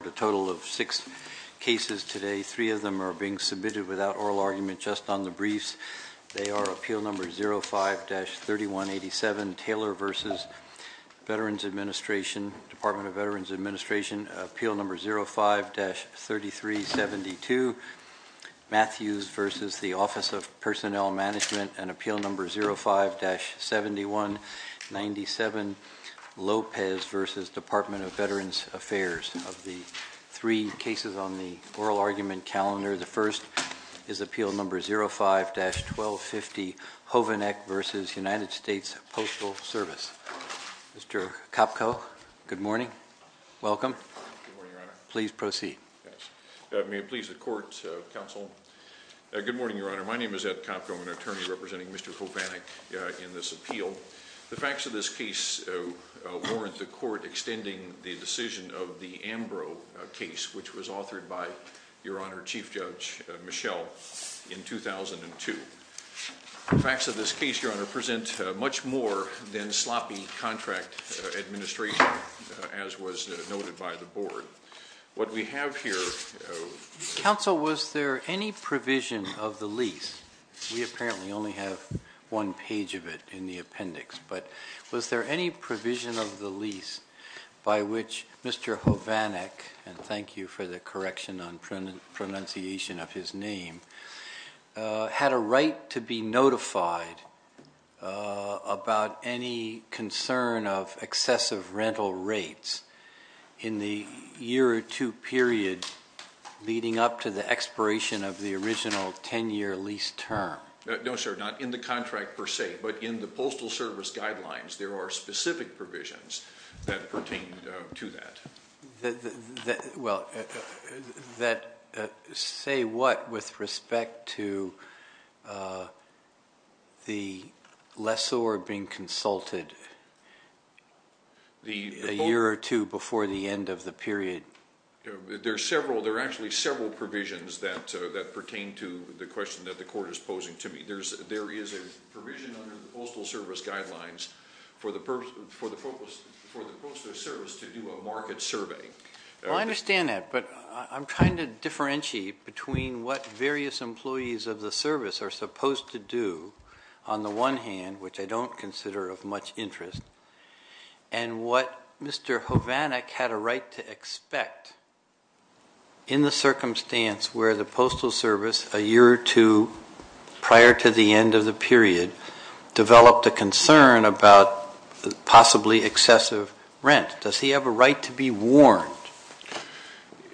The total of six cases today, three of them are being submitted without oral argument, just on the briefs. They are appeal number 05-3187, Taylor v. Department of Veterans Administration, appeal number 05-3372, Matthews v. the Office of Personnel Management and appeal number 05-7197, Lopez v. Department of Veterans Affairs. Of the three cases on the oral argument calendar, the first is appeal number 05-1250, Hovanec v. United States Postal Service. Mr. Kopko, good morning. Welcome. Please proceed. May it please the Court, Counsel. Good morning, Your Honor. My name is Ed Kopko, an attorney representing Mr. Hovanec in this appeal. Counsel, the facts of this case warrant the Court extending the decision of the Ambrose case, which was authored by Your Honor, Chief Judge Michel, in 2002. The facts of this case, Your Honor, present much more than sloppy contract administration, as was noted by the Board. What we have here... Counsel, was there any provision of the lease? We apparently only have one page of it in the appendix. But was there any provision of the lease by which Mr. Hovanec, and thank you for the correction on pronunciation of his name, had a right to be notified about any concern of excessive rental rates in the year or two period leading up to the expiration of the original 10-year lease term? No, sir, not in the contract per se, but in the Postal Service Guidelines, there are specific provisions that pertain to that. Well, say what with respect to the lessor being consulted a year or two before the end of the period? There are actually several provisions that pertain to the question that the Court is posing to me. There is a provision under the Postal Service Guidelines for the Postal Service to do a market survey. I understand that, but I'm trying to differentiate between what various employees of the service are supposed to do, on the one hand, which I don't consider of much interest, and what Mr. Hovanec had a right to expect in the circumstance where the Postal Service, a year or two prior to the end of the period, developed a concern about possibly excessive rent. Does he have a right to be warned?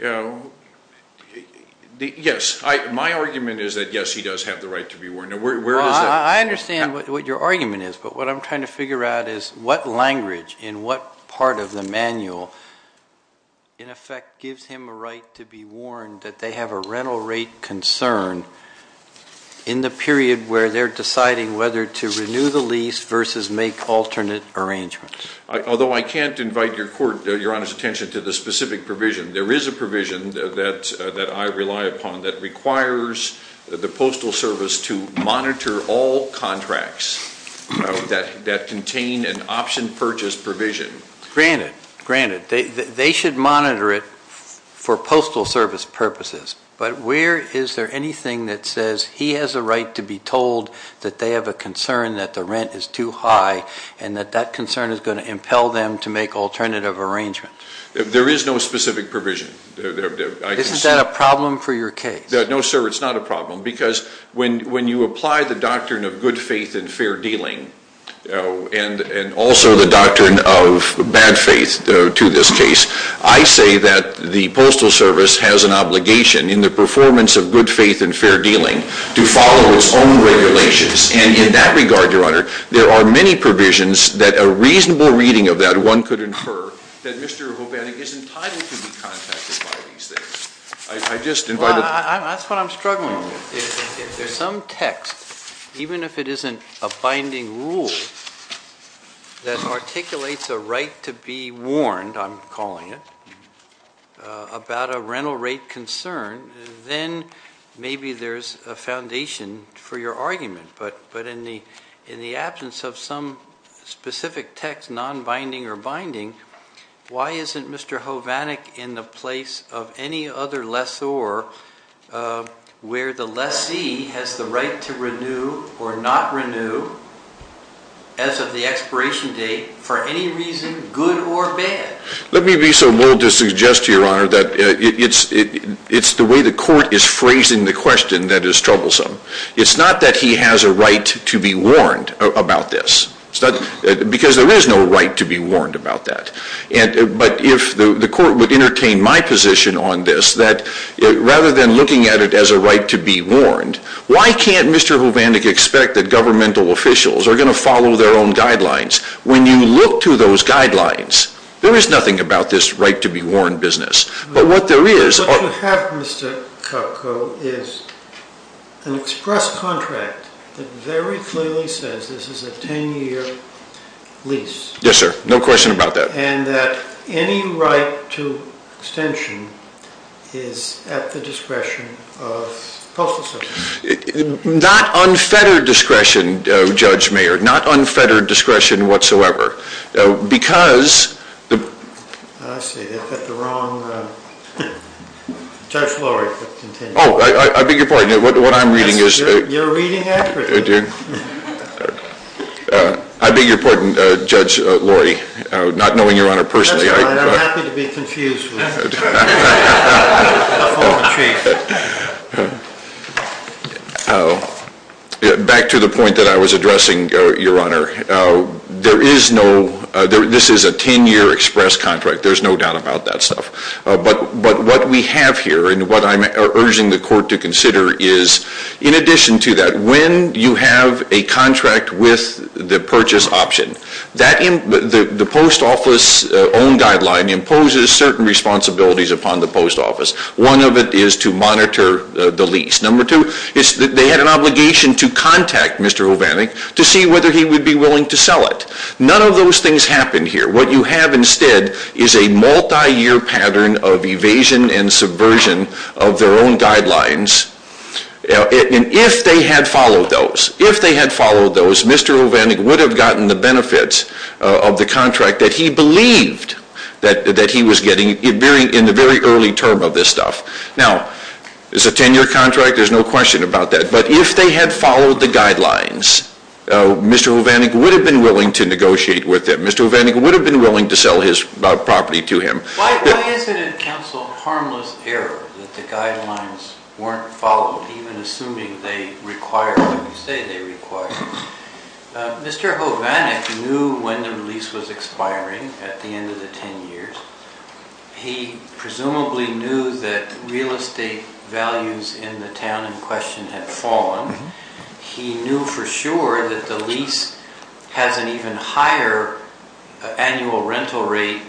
Yes, my argument is that yes, he does have the right to be warned. I understand what your argument is, but what I'm trying to figure out is what language in what part of the manual, in effect, gives him a right to be warned that they have a rental rate concern in the period where they're deciding whether to renew the lease versus make alternate arrangements. Although I can't invite your Court, your Honor's attention to the specific provision, there is a provision that I rely upon that requires the Postal Service to monitor all contracts that contain an option purchase provision. Granted, granted, they should monitor it for Postal Service purposes, but where is there anything that says he has a right to be told that they have a concern that the rent is too high, and that that concern is going to impel them to make alternative arrangements? There is no specific provision. Isn't that a problem for your case? No, sir, it's not a problem, because when you apply the doctrine of good faith and fair dealing, and also the doctrine of bad faith to this case, I say that the Postal Service has an obligation in the performance of good faith and fair dealing to follow its own regulations. And in that regard, your Honor, there are many provisions that a reasonable reading of that one could infer that Mr. Hobanek is entitled to be contacted by these things. I just invite... Well, that's what I'm struggling with. If there's some text, even if it isn't a binding rule that articulates a right to be warned, I'm calling it, about a rental rate concern, then maybe there's a foundation for your argument. But in the absence of some specific text, non-binding or binding, why isn't Mr. Hobanek in the place of any other lessor where the lessee has the right to renew or not renew, as of the expiration date, for any reason, good or bad? Let me be so bold to suggest to your Honor that it's the way the court is phrasing the question that is troublesome. It's not that he has a right to be warned about this. Because there is no right to be warned about that. But if the court would entertain my position on this, that rather than looking at it as a right to be warned, why can't Mr. Hobanek expect that governmental officials are going to follow their own guidelines? When you look to those guidelines, there is nothing about this right to be warned business. But what there is- What you have, Mr. Kupko, is an express contract that very clearly says this is a ten-year lease. Yes, sir. No question about that. And that any right to extension is at the discretion of postal service. Not unfettered discretion, Judge Mayer. Not unfettered discretion whatsoever. Because- I see. I've got the wrong- Judge Lorry, please continue. Oh, I beg your pardon. What I'm reading is- You're reading accurately. I beg your pardon, Judge Lorry. Not knowing your Honor personally- That's fine. I'm happy to be confused with you. Back to the point that I was addressing, your Honor. There is no- This is a ten-year express contract. There's no doubt about that stuff. But what we have here, and what I'm urging the Court to consider is, in addition to that, when you have a contract with the purchase option, the post office own guideline imposes certain responsibilities upon the post office. One of it is to monitor the lease. Number two is that they had an obligation to contact Mr. Hovannik to see whether he would be willing to sell it. None of those things happened here. What you have instead is a multi-year pattern of evasion and subversion of their own guidelines. And if they had followed those, Mr. Hovannik would have gotten the benefits of the contract that he believed that he was getting in the very early term of this stuff. Now, it's a ten-year contract. There's no question about that. But if they had followed the guidelines, Mr. Hovannik would have been willing to negotiate with him. Mr. Hovannik would have been willing to sell his property to him. Why isn't it, counsel, harmless error that the guidelines weren't followed even assuming they require what you say they require? Mr. Hovannik knew when the lease was expiring at the end of the ten years. He presumably knew that real estate values in the town in question had fallen. He knew for sure that the lease has an even higher annual rental rate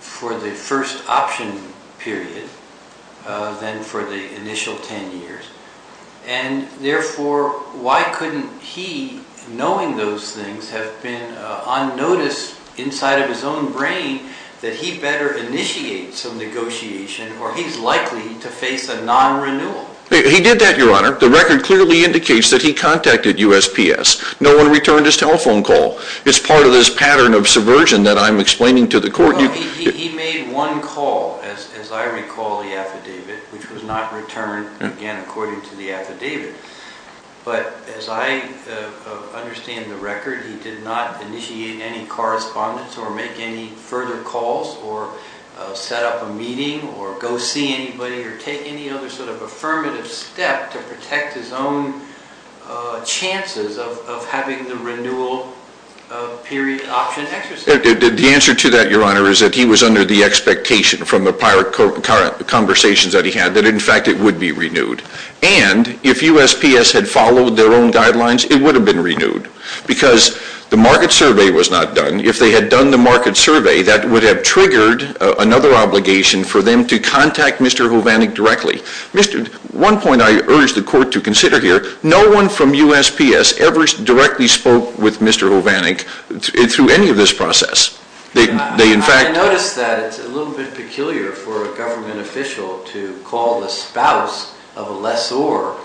for the first option period than for the initial ten years. And therefore, why couldn't he, knowing those things, have been on notice inside of his own brain that he better initiate some negotiation or he's likely to face a non-renewal? He did that, Your Honor. The record clearly indicates that he contacted USPS. No one returned his telephone call. It's part of this pattern of subversion that I'm explaining to the court. He made one call, as I recall the affidavit, which was not returned, again, according to the affidavit. But as I understand the record, he did not initiate any correspondence or make any further calls or set up a meeting or go see anybody or take any other sort of affirmative step to protect his own chances of having the renewal period option exercise. The answer to that, Your Honor, is that he was under the expectation from the prior conversations that he had that, in fact, it would be renewed. And if USPS had followed their own guidelines, it would have been renewed. Because the market survey was not done. If they had done the market survey, that would have triggered another obligation for them to contact Mr. Hovannik directly. One point I urge the court to consider here, no one from USPS ever directly spoke with Mr. Hovannik through any of this process. They, in fact... I notice that it's a little bit peculiar for a government official to call the spouse of a lessor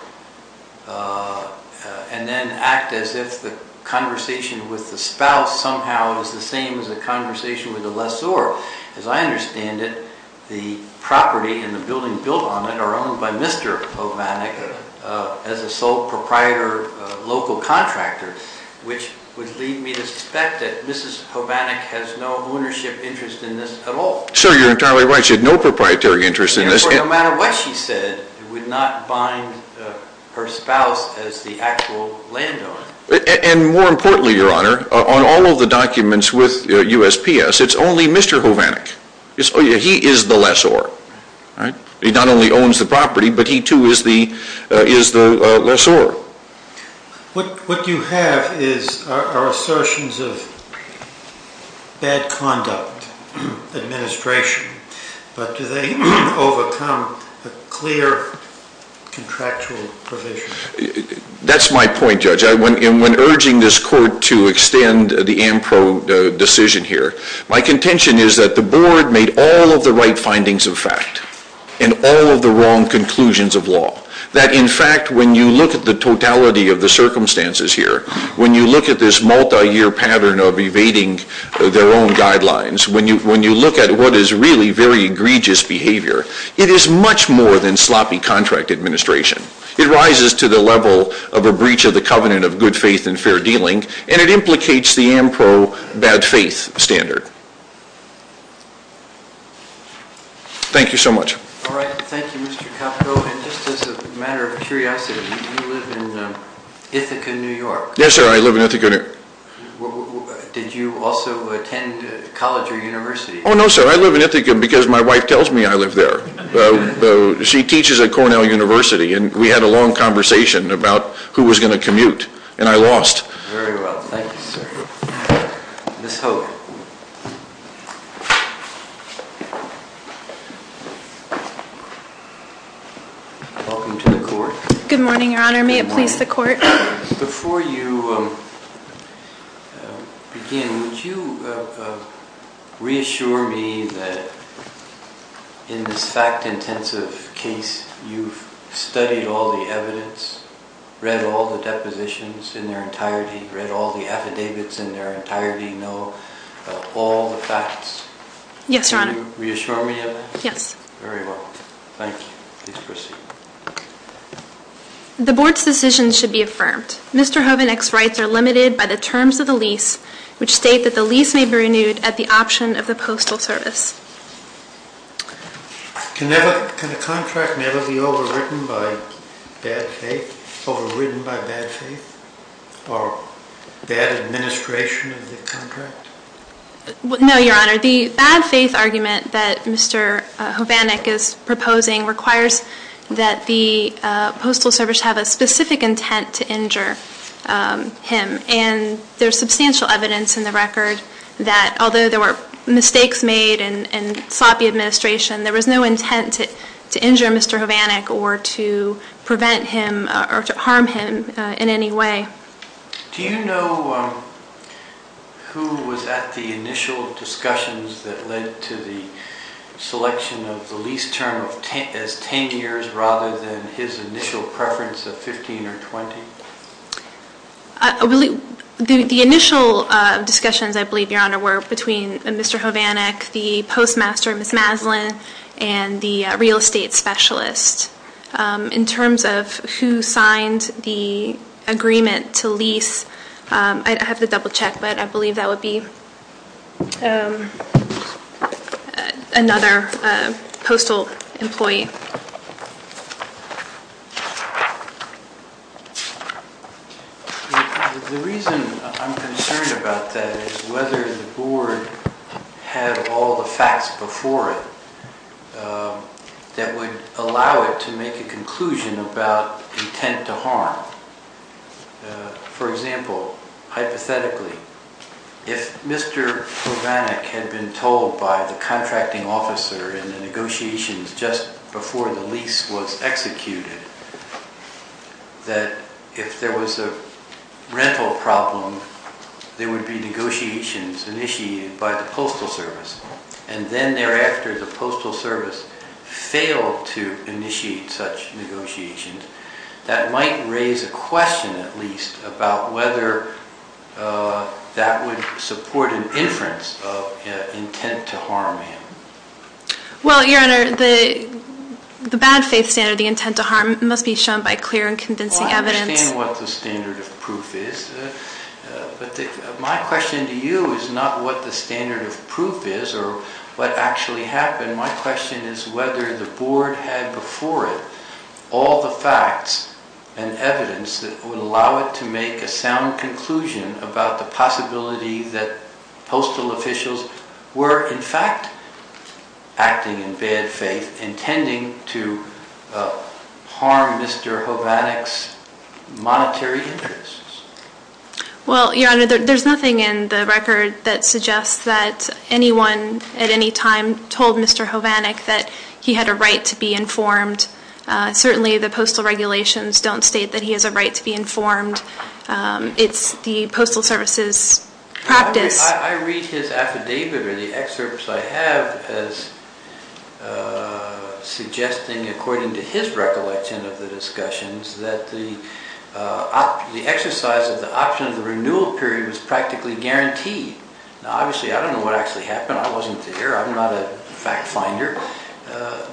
and then act as if the conversation with the spouse somehow is the same as the conversation with the lessor. As I understand it, the property and the building built on it are owned by Mr. Hovannik as a sole proprietor, local contractor, which would lead me to suspect that Mrs. Hovannik has no ownership interest in this at all. So you're entirely right. She had no proprietary interest in this. Therefore, no matter what she said, it would not bind her spouse as the actual landowner. And more importantly, Your Honor, on all of the documents with USPS, it's only Mr. Hovannik. He is the lessor. He not only owns the property, but he too is the lessor. What you have are assertions of bad conduct, administration, but do they overcome a clear contractual provision? That's my point, Judge. When urging this Court to extend the am pro decision here, my contention is that the Board made all of the right findings of fact and all of the wrong conclusions of law. That in fact, when you look at the totality of the circumstances here, when you look at this multi-year pattern of evading their own guidelines, when you look at what is really very egregious behavior, it is much more than sloppy contract administration. It rises to the level of a breach of the covenant of good faith and fair dealing, and it implicates the am pro bad faith standard. Thank you so much. All right. Thank you, Mr. Capito. And just as a matter of curiosity, you live in Ithaca, New York. Yes, sir. I live in Ithaca, New York. Did you also attend college or university? Oh, no, sir. I live in Ithaca because my wife tells me I live there. She teaches at Cornell University, and we had a long conversation about who was going to commute. And I lost. Very well. Thank you, sir. Ms. Hogue. Welcome to the Court. Good morning, Your Honor. May it please the Court. Before you begin, would you reassure me that in this fact-intensive case you've studied all the evidence, read all the depositions in their entirety, read all the affidavits in their entirety, know all the facts? Yes, Your Honor. Can you reassure me of that? Yes. Very well. Thank you. Please proceed. The Board's decision should be affirmed. Mr. Hovanec's rights are limited by the terms of the lease, which state that the lease may be renewed at the option of the Postal Service. Can a contract never be overridden by bad faith, overridden by bad faith, or bad administration of the contract? No, Your Honor. The bad faith argument that Mr. Hovanec is proposing requires that the Postal Service have a specific intent to injure him. And there's substantial evidence in the record that although there were mistakes made and sloppy administration, there was no intent to injure Mr. Hovanec or to prevent him or to harm him in any way. Do you know who was at the initial discussions that led to the selection of the lease term as 10 years rather than his initial preference of 15 or 20? The initial discussions, I believe, Your Honor, were between Mr. Hovanec, the postmaster, Ms. Maslin, and the real estate specialist. In terms of who signed the agreement to lease, I'd have to double-check, but I believe that would be another postal employee. The reason I'm concerned about that is whether the Board had all the facts before it that would allow it to make a conclusion about intent to harm. For example, hypothetically, if Mr. Hovanec had been told by the contracting officer in the negotiations just before the lease was executed that if there was a rental problem, there would be negotiations initiated by the Postal Service, and then thereafter the Postal Service that might raise a question, at least, about whether that would support an inference of intent to harm. Well, Your Honor, the bad faith standard, the intent to harm, must be shown by clear and convincing evidence. Well, I understand what the standard of proof is, but my question to you is not what the standard of proof is or what actually happened. My question is whether the Board had before it all the facts and evidence that would allow it to make a sound conclusion about the possibility that postal officials were, in fact, acting in bad faith intending to harm Mr. Hovanec's monetary interests. Well, Your Honor, there's nothing in the record that suggests that anyone at any time told Mr. Hovanec that he had a right to be informed. Certainly, the postal regulations don't state that he has a right to be informed. It's the Postal Service's practice. I read his affidavit or the excerpts I have as suggesting, according to his recollection of the discussions, that the exercise of the option of the renewal period was practically guaranteed. Now, obviously, I don't know what actually happened. I wasn't there. I'm not a fact finder.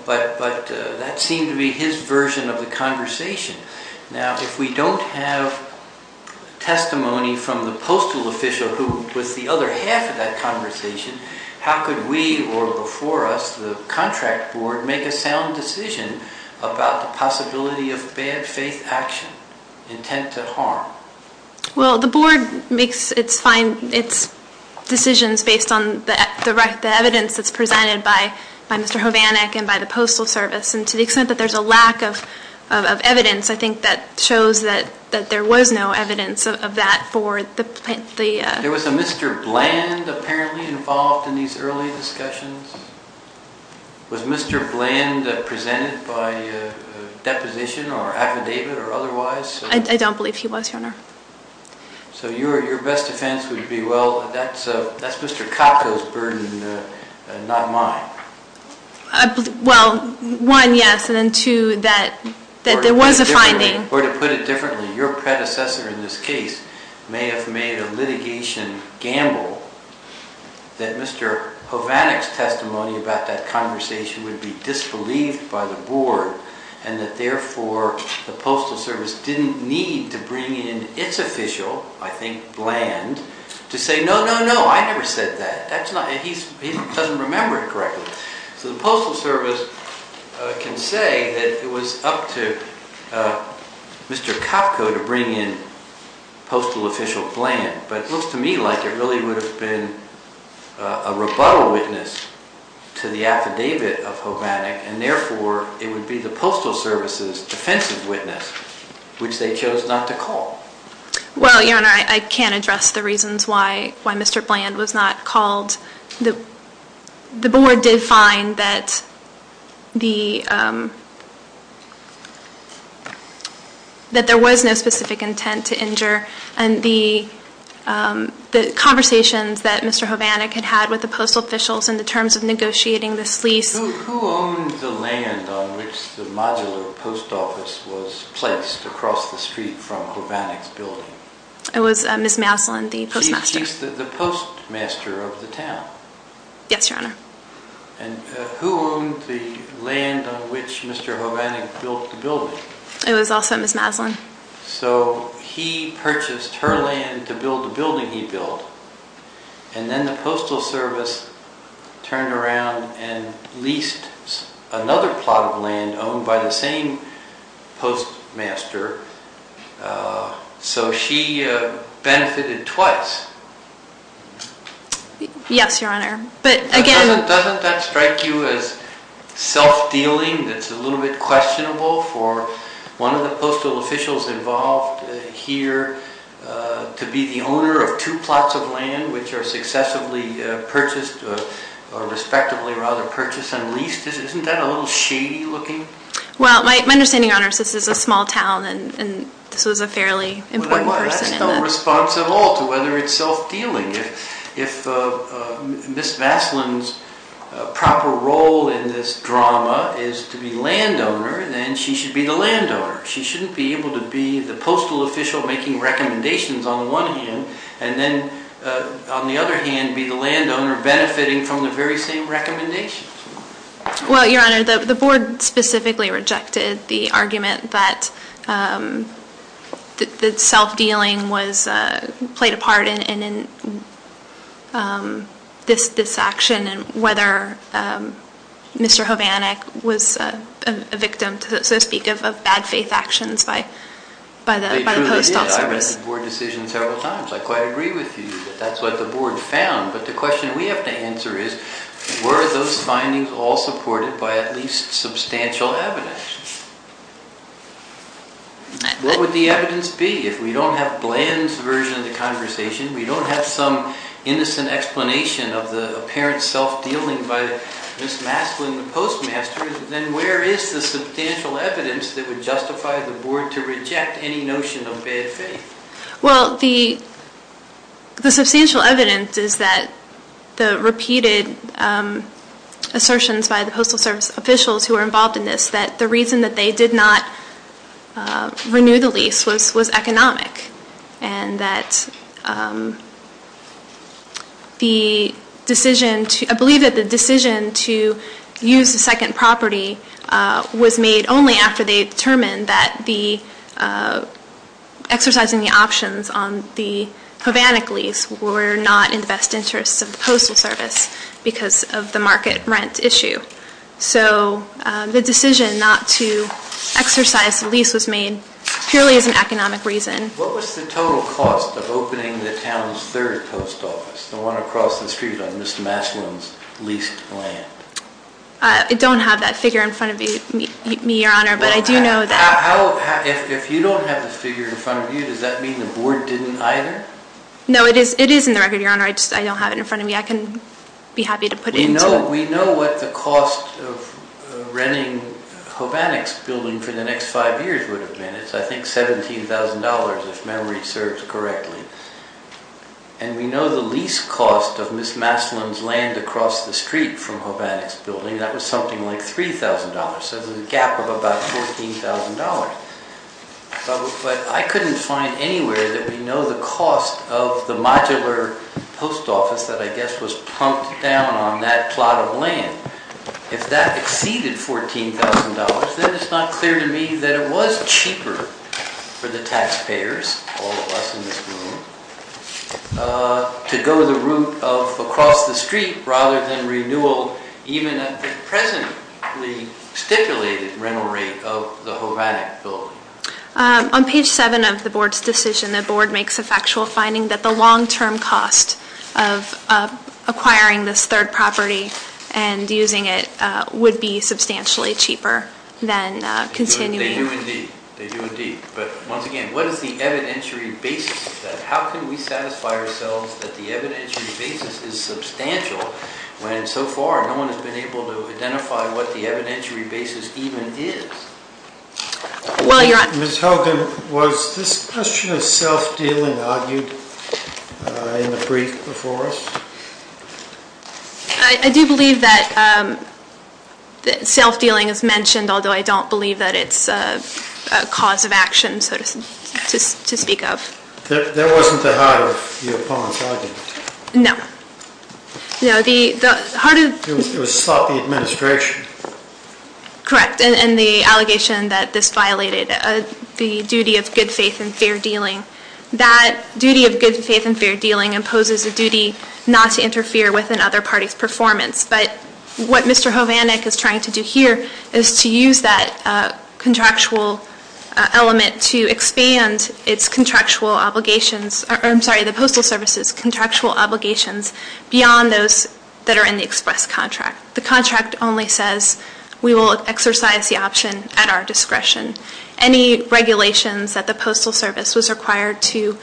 But that seemed to be his version of the conversation. Now, if we don't have testimony from the postal official who was the other half of that conversation, how could we, or before us, the Contract Board, make a sound decision about the possibility of bad faith action intent to harm? Well, the Board makes its decisions based on the evidence that's presented by Mr. Hovanec and by the Postal Service. And to the extent that there's a lack of evidence, I think that shows that there was no evidence of that for the... There was a Mr. Bland, apparently, involved in these early discussions? Was Mr. Bland presented by deposition or affidavit or otherwise? I don't believe he was, Your Honor. So your best defense would be, Well, that's Mr. Kotko's burden, not mine. Well, one, yes, and then two, that there was a finding. Or to put it differently, your predecessor in this case may have made a litigation gamble that Mr. Hovanec's testimony about that conversation would be disbelieved by the Board and that, therefore, the Postal Service didn't need to bring in its official, I think, Bland, to say, No, no, no, I never said that. He doesn't remember it correctly. So the Postal Service can say that it was up to Mr. Kotko to bring in Postal Official Bland. But it looks to me like it really would have been a rebuttal witness to the affidavit of Hovanec and, therefore, it would be the Postal Service's defensive witness, which they chose not to call. Well, Your Honor, I can't address the reasons why Mr. Bland was not called. The Board did find that there was no specific intent to injure and the conversations that Mr. Hovanec had had with the Postal Officials in the terms of negotiating this lease Who owned the land on which the modular post office was placed across the street from Hovanec's building? It was Ms. Maslin, the Postmaster. She's the Postmaster of the town. Yes, Your Honor. And who owned the land on which Mr. Hovanec built the building? It was also Ms. Maslin. So he purchased her land to build the building he built and then the Postal Service turned around and leased another plot of land owned by the same Postmaster so she benefited twice. Yes, Your Honor. But again... Doesn't that strike you as self-dealing that's a little bit questionable for one of the Postal Officials involved here to be the owner of two plots of land which are successively purchased and leased? Isn't that a little shady looking? Well, my understanding, Your Honor, since this is a small town and this was a fairly important person... I have no response at all to whether it's self-dealing. If Ms. Maslin's proper role in this drama is to be landowner then she should be the landowner. She shouldn't be able to be the Postal Official making recommendations on the one hand and then on the other hand be the landowner benefiting from the very same recommendations. Well, Your Honor, the Board specifically rejected the argument that that self-dealing played a part in this action and whether Mr. Hovannik was a victim so to speak of bad faith actions by the Postal Service. It truly is. I read the Board decision several times. I quite agree with you that that's what the Board found. But the question we have to answer is were those findings all supported by at least what would the evidence be if we don't have bland version of the conversation we don't have some innocent explanation of the apparent self-dealing by Ms. Maslin the Postmaster then where is the substantial evidence that would justify the Board to reject any notion of bad faith? Well, the the substantial evidence is that the repeated assertions by the Postal Service officials who were involved in this that the reason that they did not renew the lease was economic and that the decision I believe that the decision to use the second property was made only after they determined that the exercising the options on the Havannik lease were not in the best interests of the Postal Service because of the market rent issue. So the decision not to exercise the lease was made purely as an economic reason. What was the total cost of opening the town's third post office the one across the street on Ms. Maslin's leased land? I don't have that figure in front of me Your Honor but I do know that If you don't have that figure in front of you does that mean the Board didn't either? No, it is in the record Your Honor I don't have it in front of me I can be happy to put it in. We know what the cost of renting Havannik's building for the next five years would have been I think $17,000 if memory serves correctly and we know the lease cost of Ms. Maslin's land across the street from Havannik's building that was something like $23,000 so the gap of about $14,000 but I couldn't find anywhere that we know the cost of the modular post office that I guess was plunked down on that plot of land if that exceeded $14,000 then it's not clear to me that it was cheaper for the taxpayers all of us in this room to go the route of across the street rather than renewal even at the presently stipulated rental rate of the Havannik building On page 7 of the board's decision the board makes a factual finding that the long term cost of acquiring this third property and using it would be substantially cheaper than continuing They do indeed but once again what is the evidentiary basis of that how can we satisfy ourselves that the evidentiary basis is substantial when so far no one has been able to identify what the evidentiary basis even is Ms. Hogan was this a faith and fair dealing is mentioned although I don't believe it's a cause of action to speak of There wasn't the heart of the opponent's argument No It was sought by the administration Correct and the What Alvanek is trying to do here is to use that contractual element to expand its contractual obligations beyond those that are in the express contract The contract only says we will exercise the option at our discretion Any regulations that the Postal Service was required to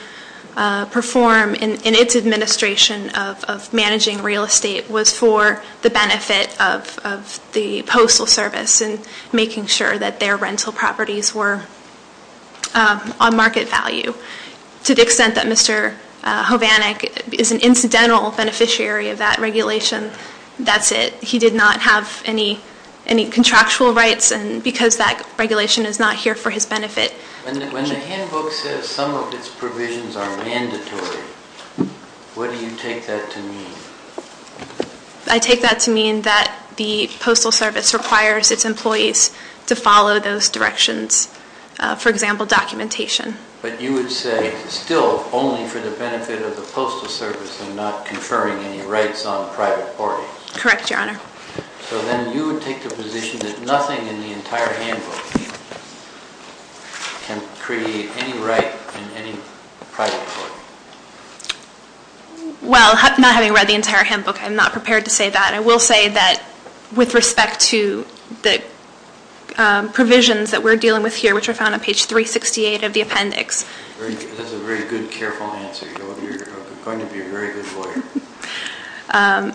perform in its administration of managing real estate was for the benefit of the Postal Service and making sure their regulations are not here for his benefit When the handbook says some of its provisions are mandatory what do you take that to mean I take that to mean that the Postal Service requires its employees to follow those directions for example documentation But you would say still only for the benefit of the Postal Service and not conferring any rights on private porting Correct Your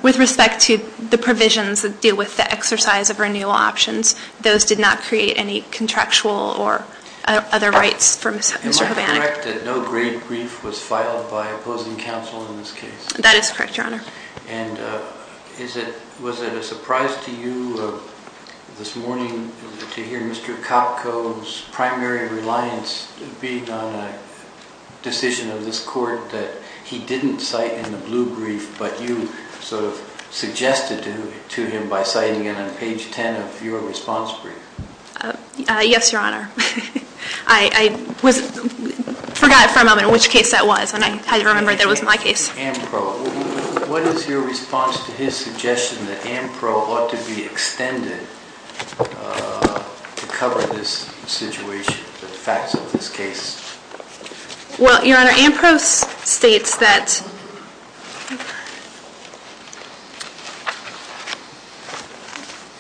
With respect to the provisions that we're dealing with here which are found on page 368 of the appendix With respect to the provisions that deal with the exercise of renewal options those did not create any contractual or for Mr. Hobanek Was it a surprise to you this morning to hear Mr. Kopko's primary reliance being on a decision of this court that he didn't cite in the blue brief but you suggested Mr. Hobanek had to do to him by citing it on page 10 of your response brief Yes Your Honor I forgot for a moment which case that was and I had to remember that was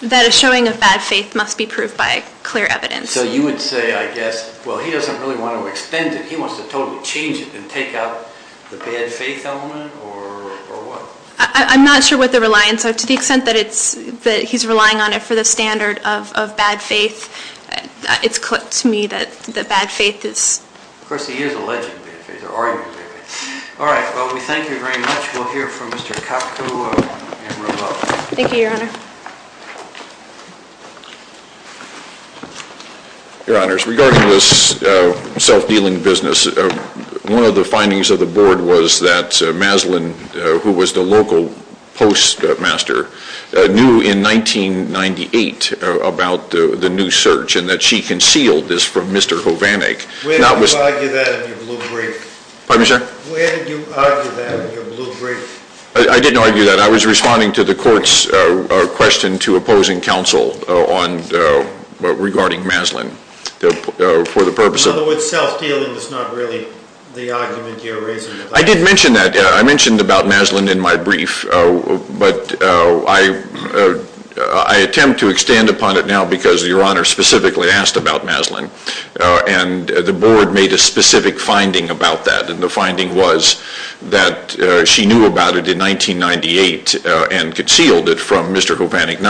that a showing of bad faith must be proved by clear evidence So you would say I guess well he doesn't really want to extend it he wants to totally change it and take out the bad faith element or what I'm not sure what the the evidence is that Mr. Hobanek had to do to him by citing it on page 10 of your response brief Yes Your Honor Thank you Your Honor Regarding this self dealing with the argument you are raising at the time I did mention that I mention about Maslin in my brief but I attempt to extend upon it now because your honor specifically asked about Maslin and the board made a specific finding about that and the finding was that she knew about it in 1998 and concealed it from Mr. Hovannik's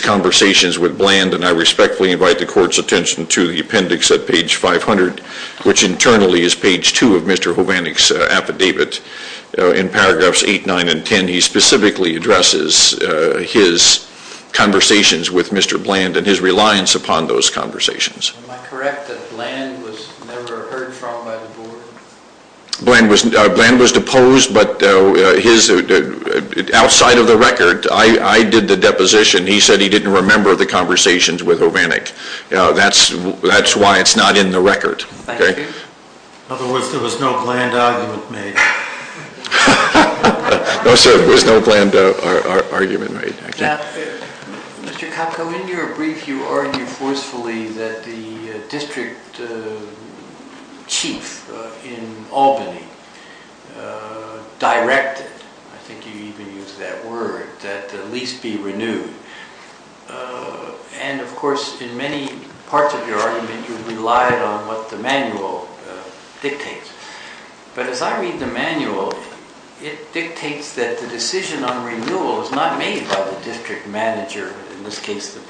conversations with Bland and I respectfully invite the court's attention to the appendix at page 500 which internally is page 2 of Mr. Hovannik's affidavit in paragraphs 8, 9, and 10. He specifically said he didn't remember the conversations with Hovannik. That's why it's not in the record. In other words, there was no Bland argument made. In your brief you argue forcefully that the district chief in Albany should be directed – I think you even used that word – that at least be renewed. Of course, in many parts of your argument you relied on what the manual dictates. But as I read the manual, it dictates that the decision on renewal is not made by the district manager, in this case district chief.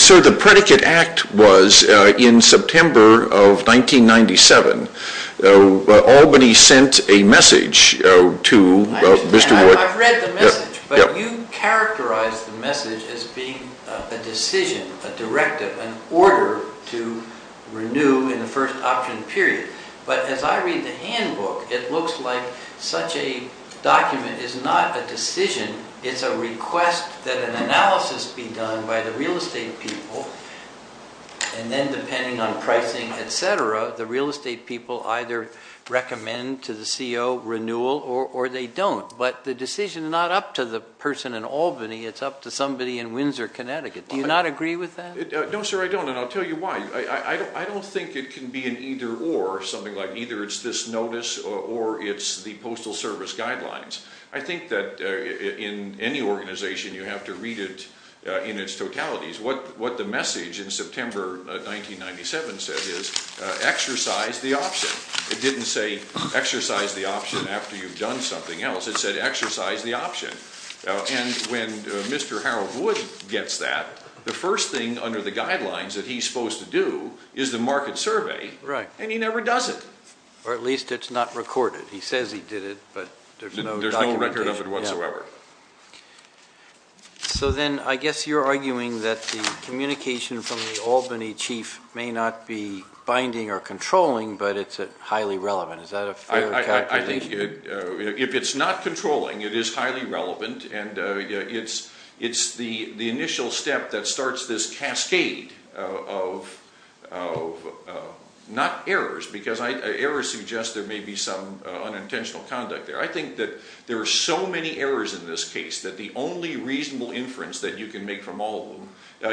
So the predicate act was in September of 1997. Albany sent a message to Mr. Wood. I've read the message, but you characterized the message as being a decision, a directive, an order to renew in the first option period. But as I read the handbook, it looks like such a document is not a decision, it's a request that an analysis be done by the real estate people, and then depending on pricing, etc., the real estate people either recommend to the real estate should do that. So I don't think it can be an either or, something like either it's this notice or it's the postal service guidelines. I think that in any organization you have to read it in its totalities. What the message in September 1997 said is exercise the option. It didn't say exercise the option after you've done something else. It said exercise the option. And when Mr. Harold Wood gets that, the first thing under the guidelines that he's supposed to do is the market survey, and he was arguing that the communication from the Albany chief may not be binding or controlling, but it's highly relevant. Is that a fair calculation? If it's not controlling, it is highly relevant, and it's the initial step that starts this cascade of not errors, because errors suggest there may be some unintentional conduct there. I think that there are so many errors in this case that the only reasonable inference that you can make from all of them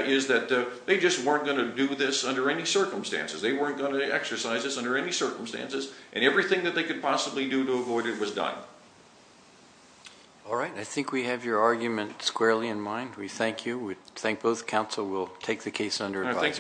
is that they just weren't going to do this under any circumstances. They weren't going to exercise this under any circumstances, and everything they could possibly do to avoid it was done. All right. I think we have your argument squarely in mind. We thank you. Thank you very much. I appreciate your time. We'll take the case under advice. We'll take the case under advice. Thank you. case under advice.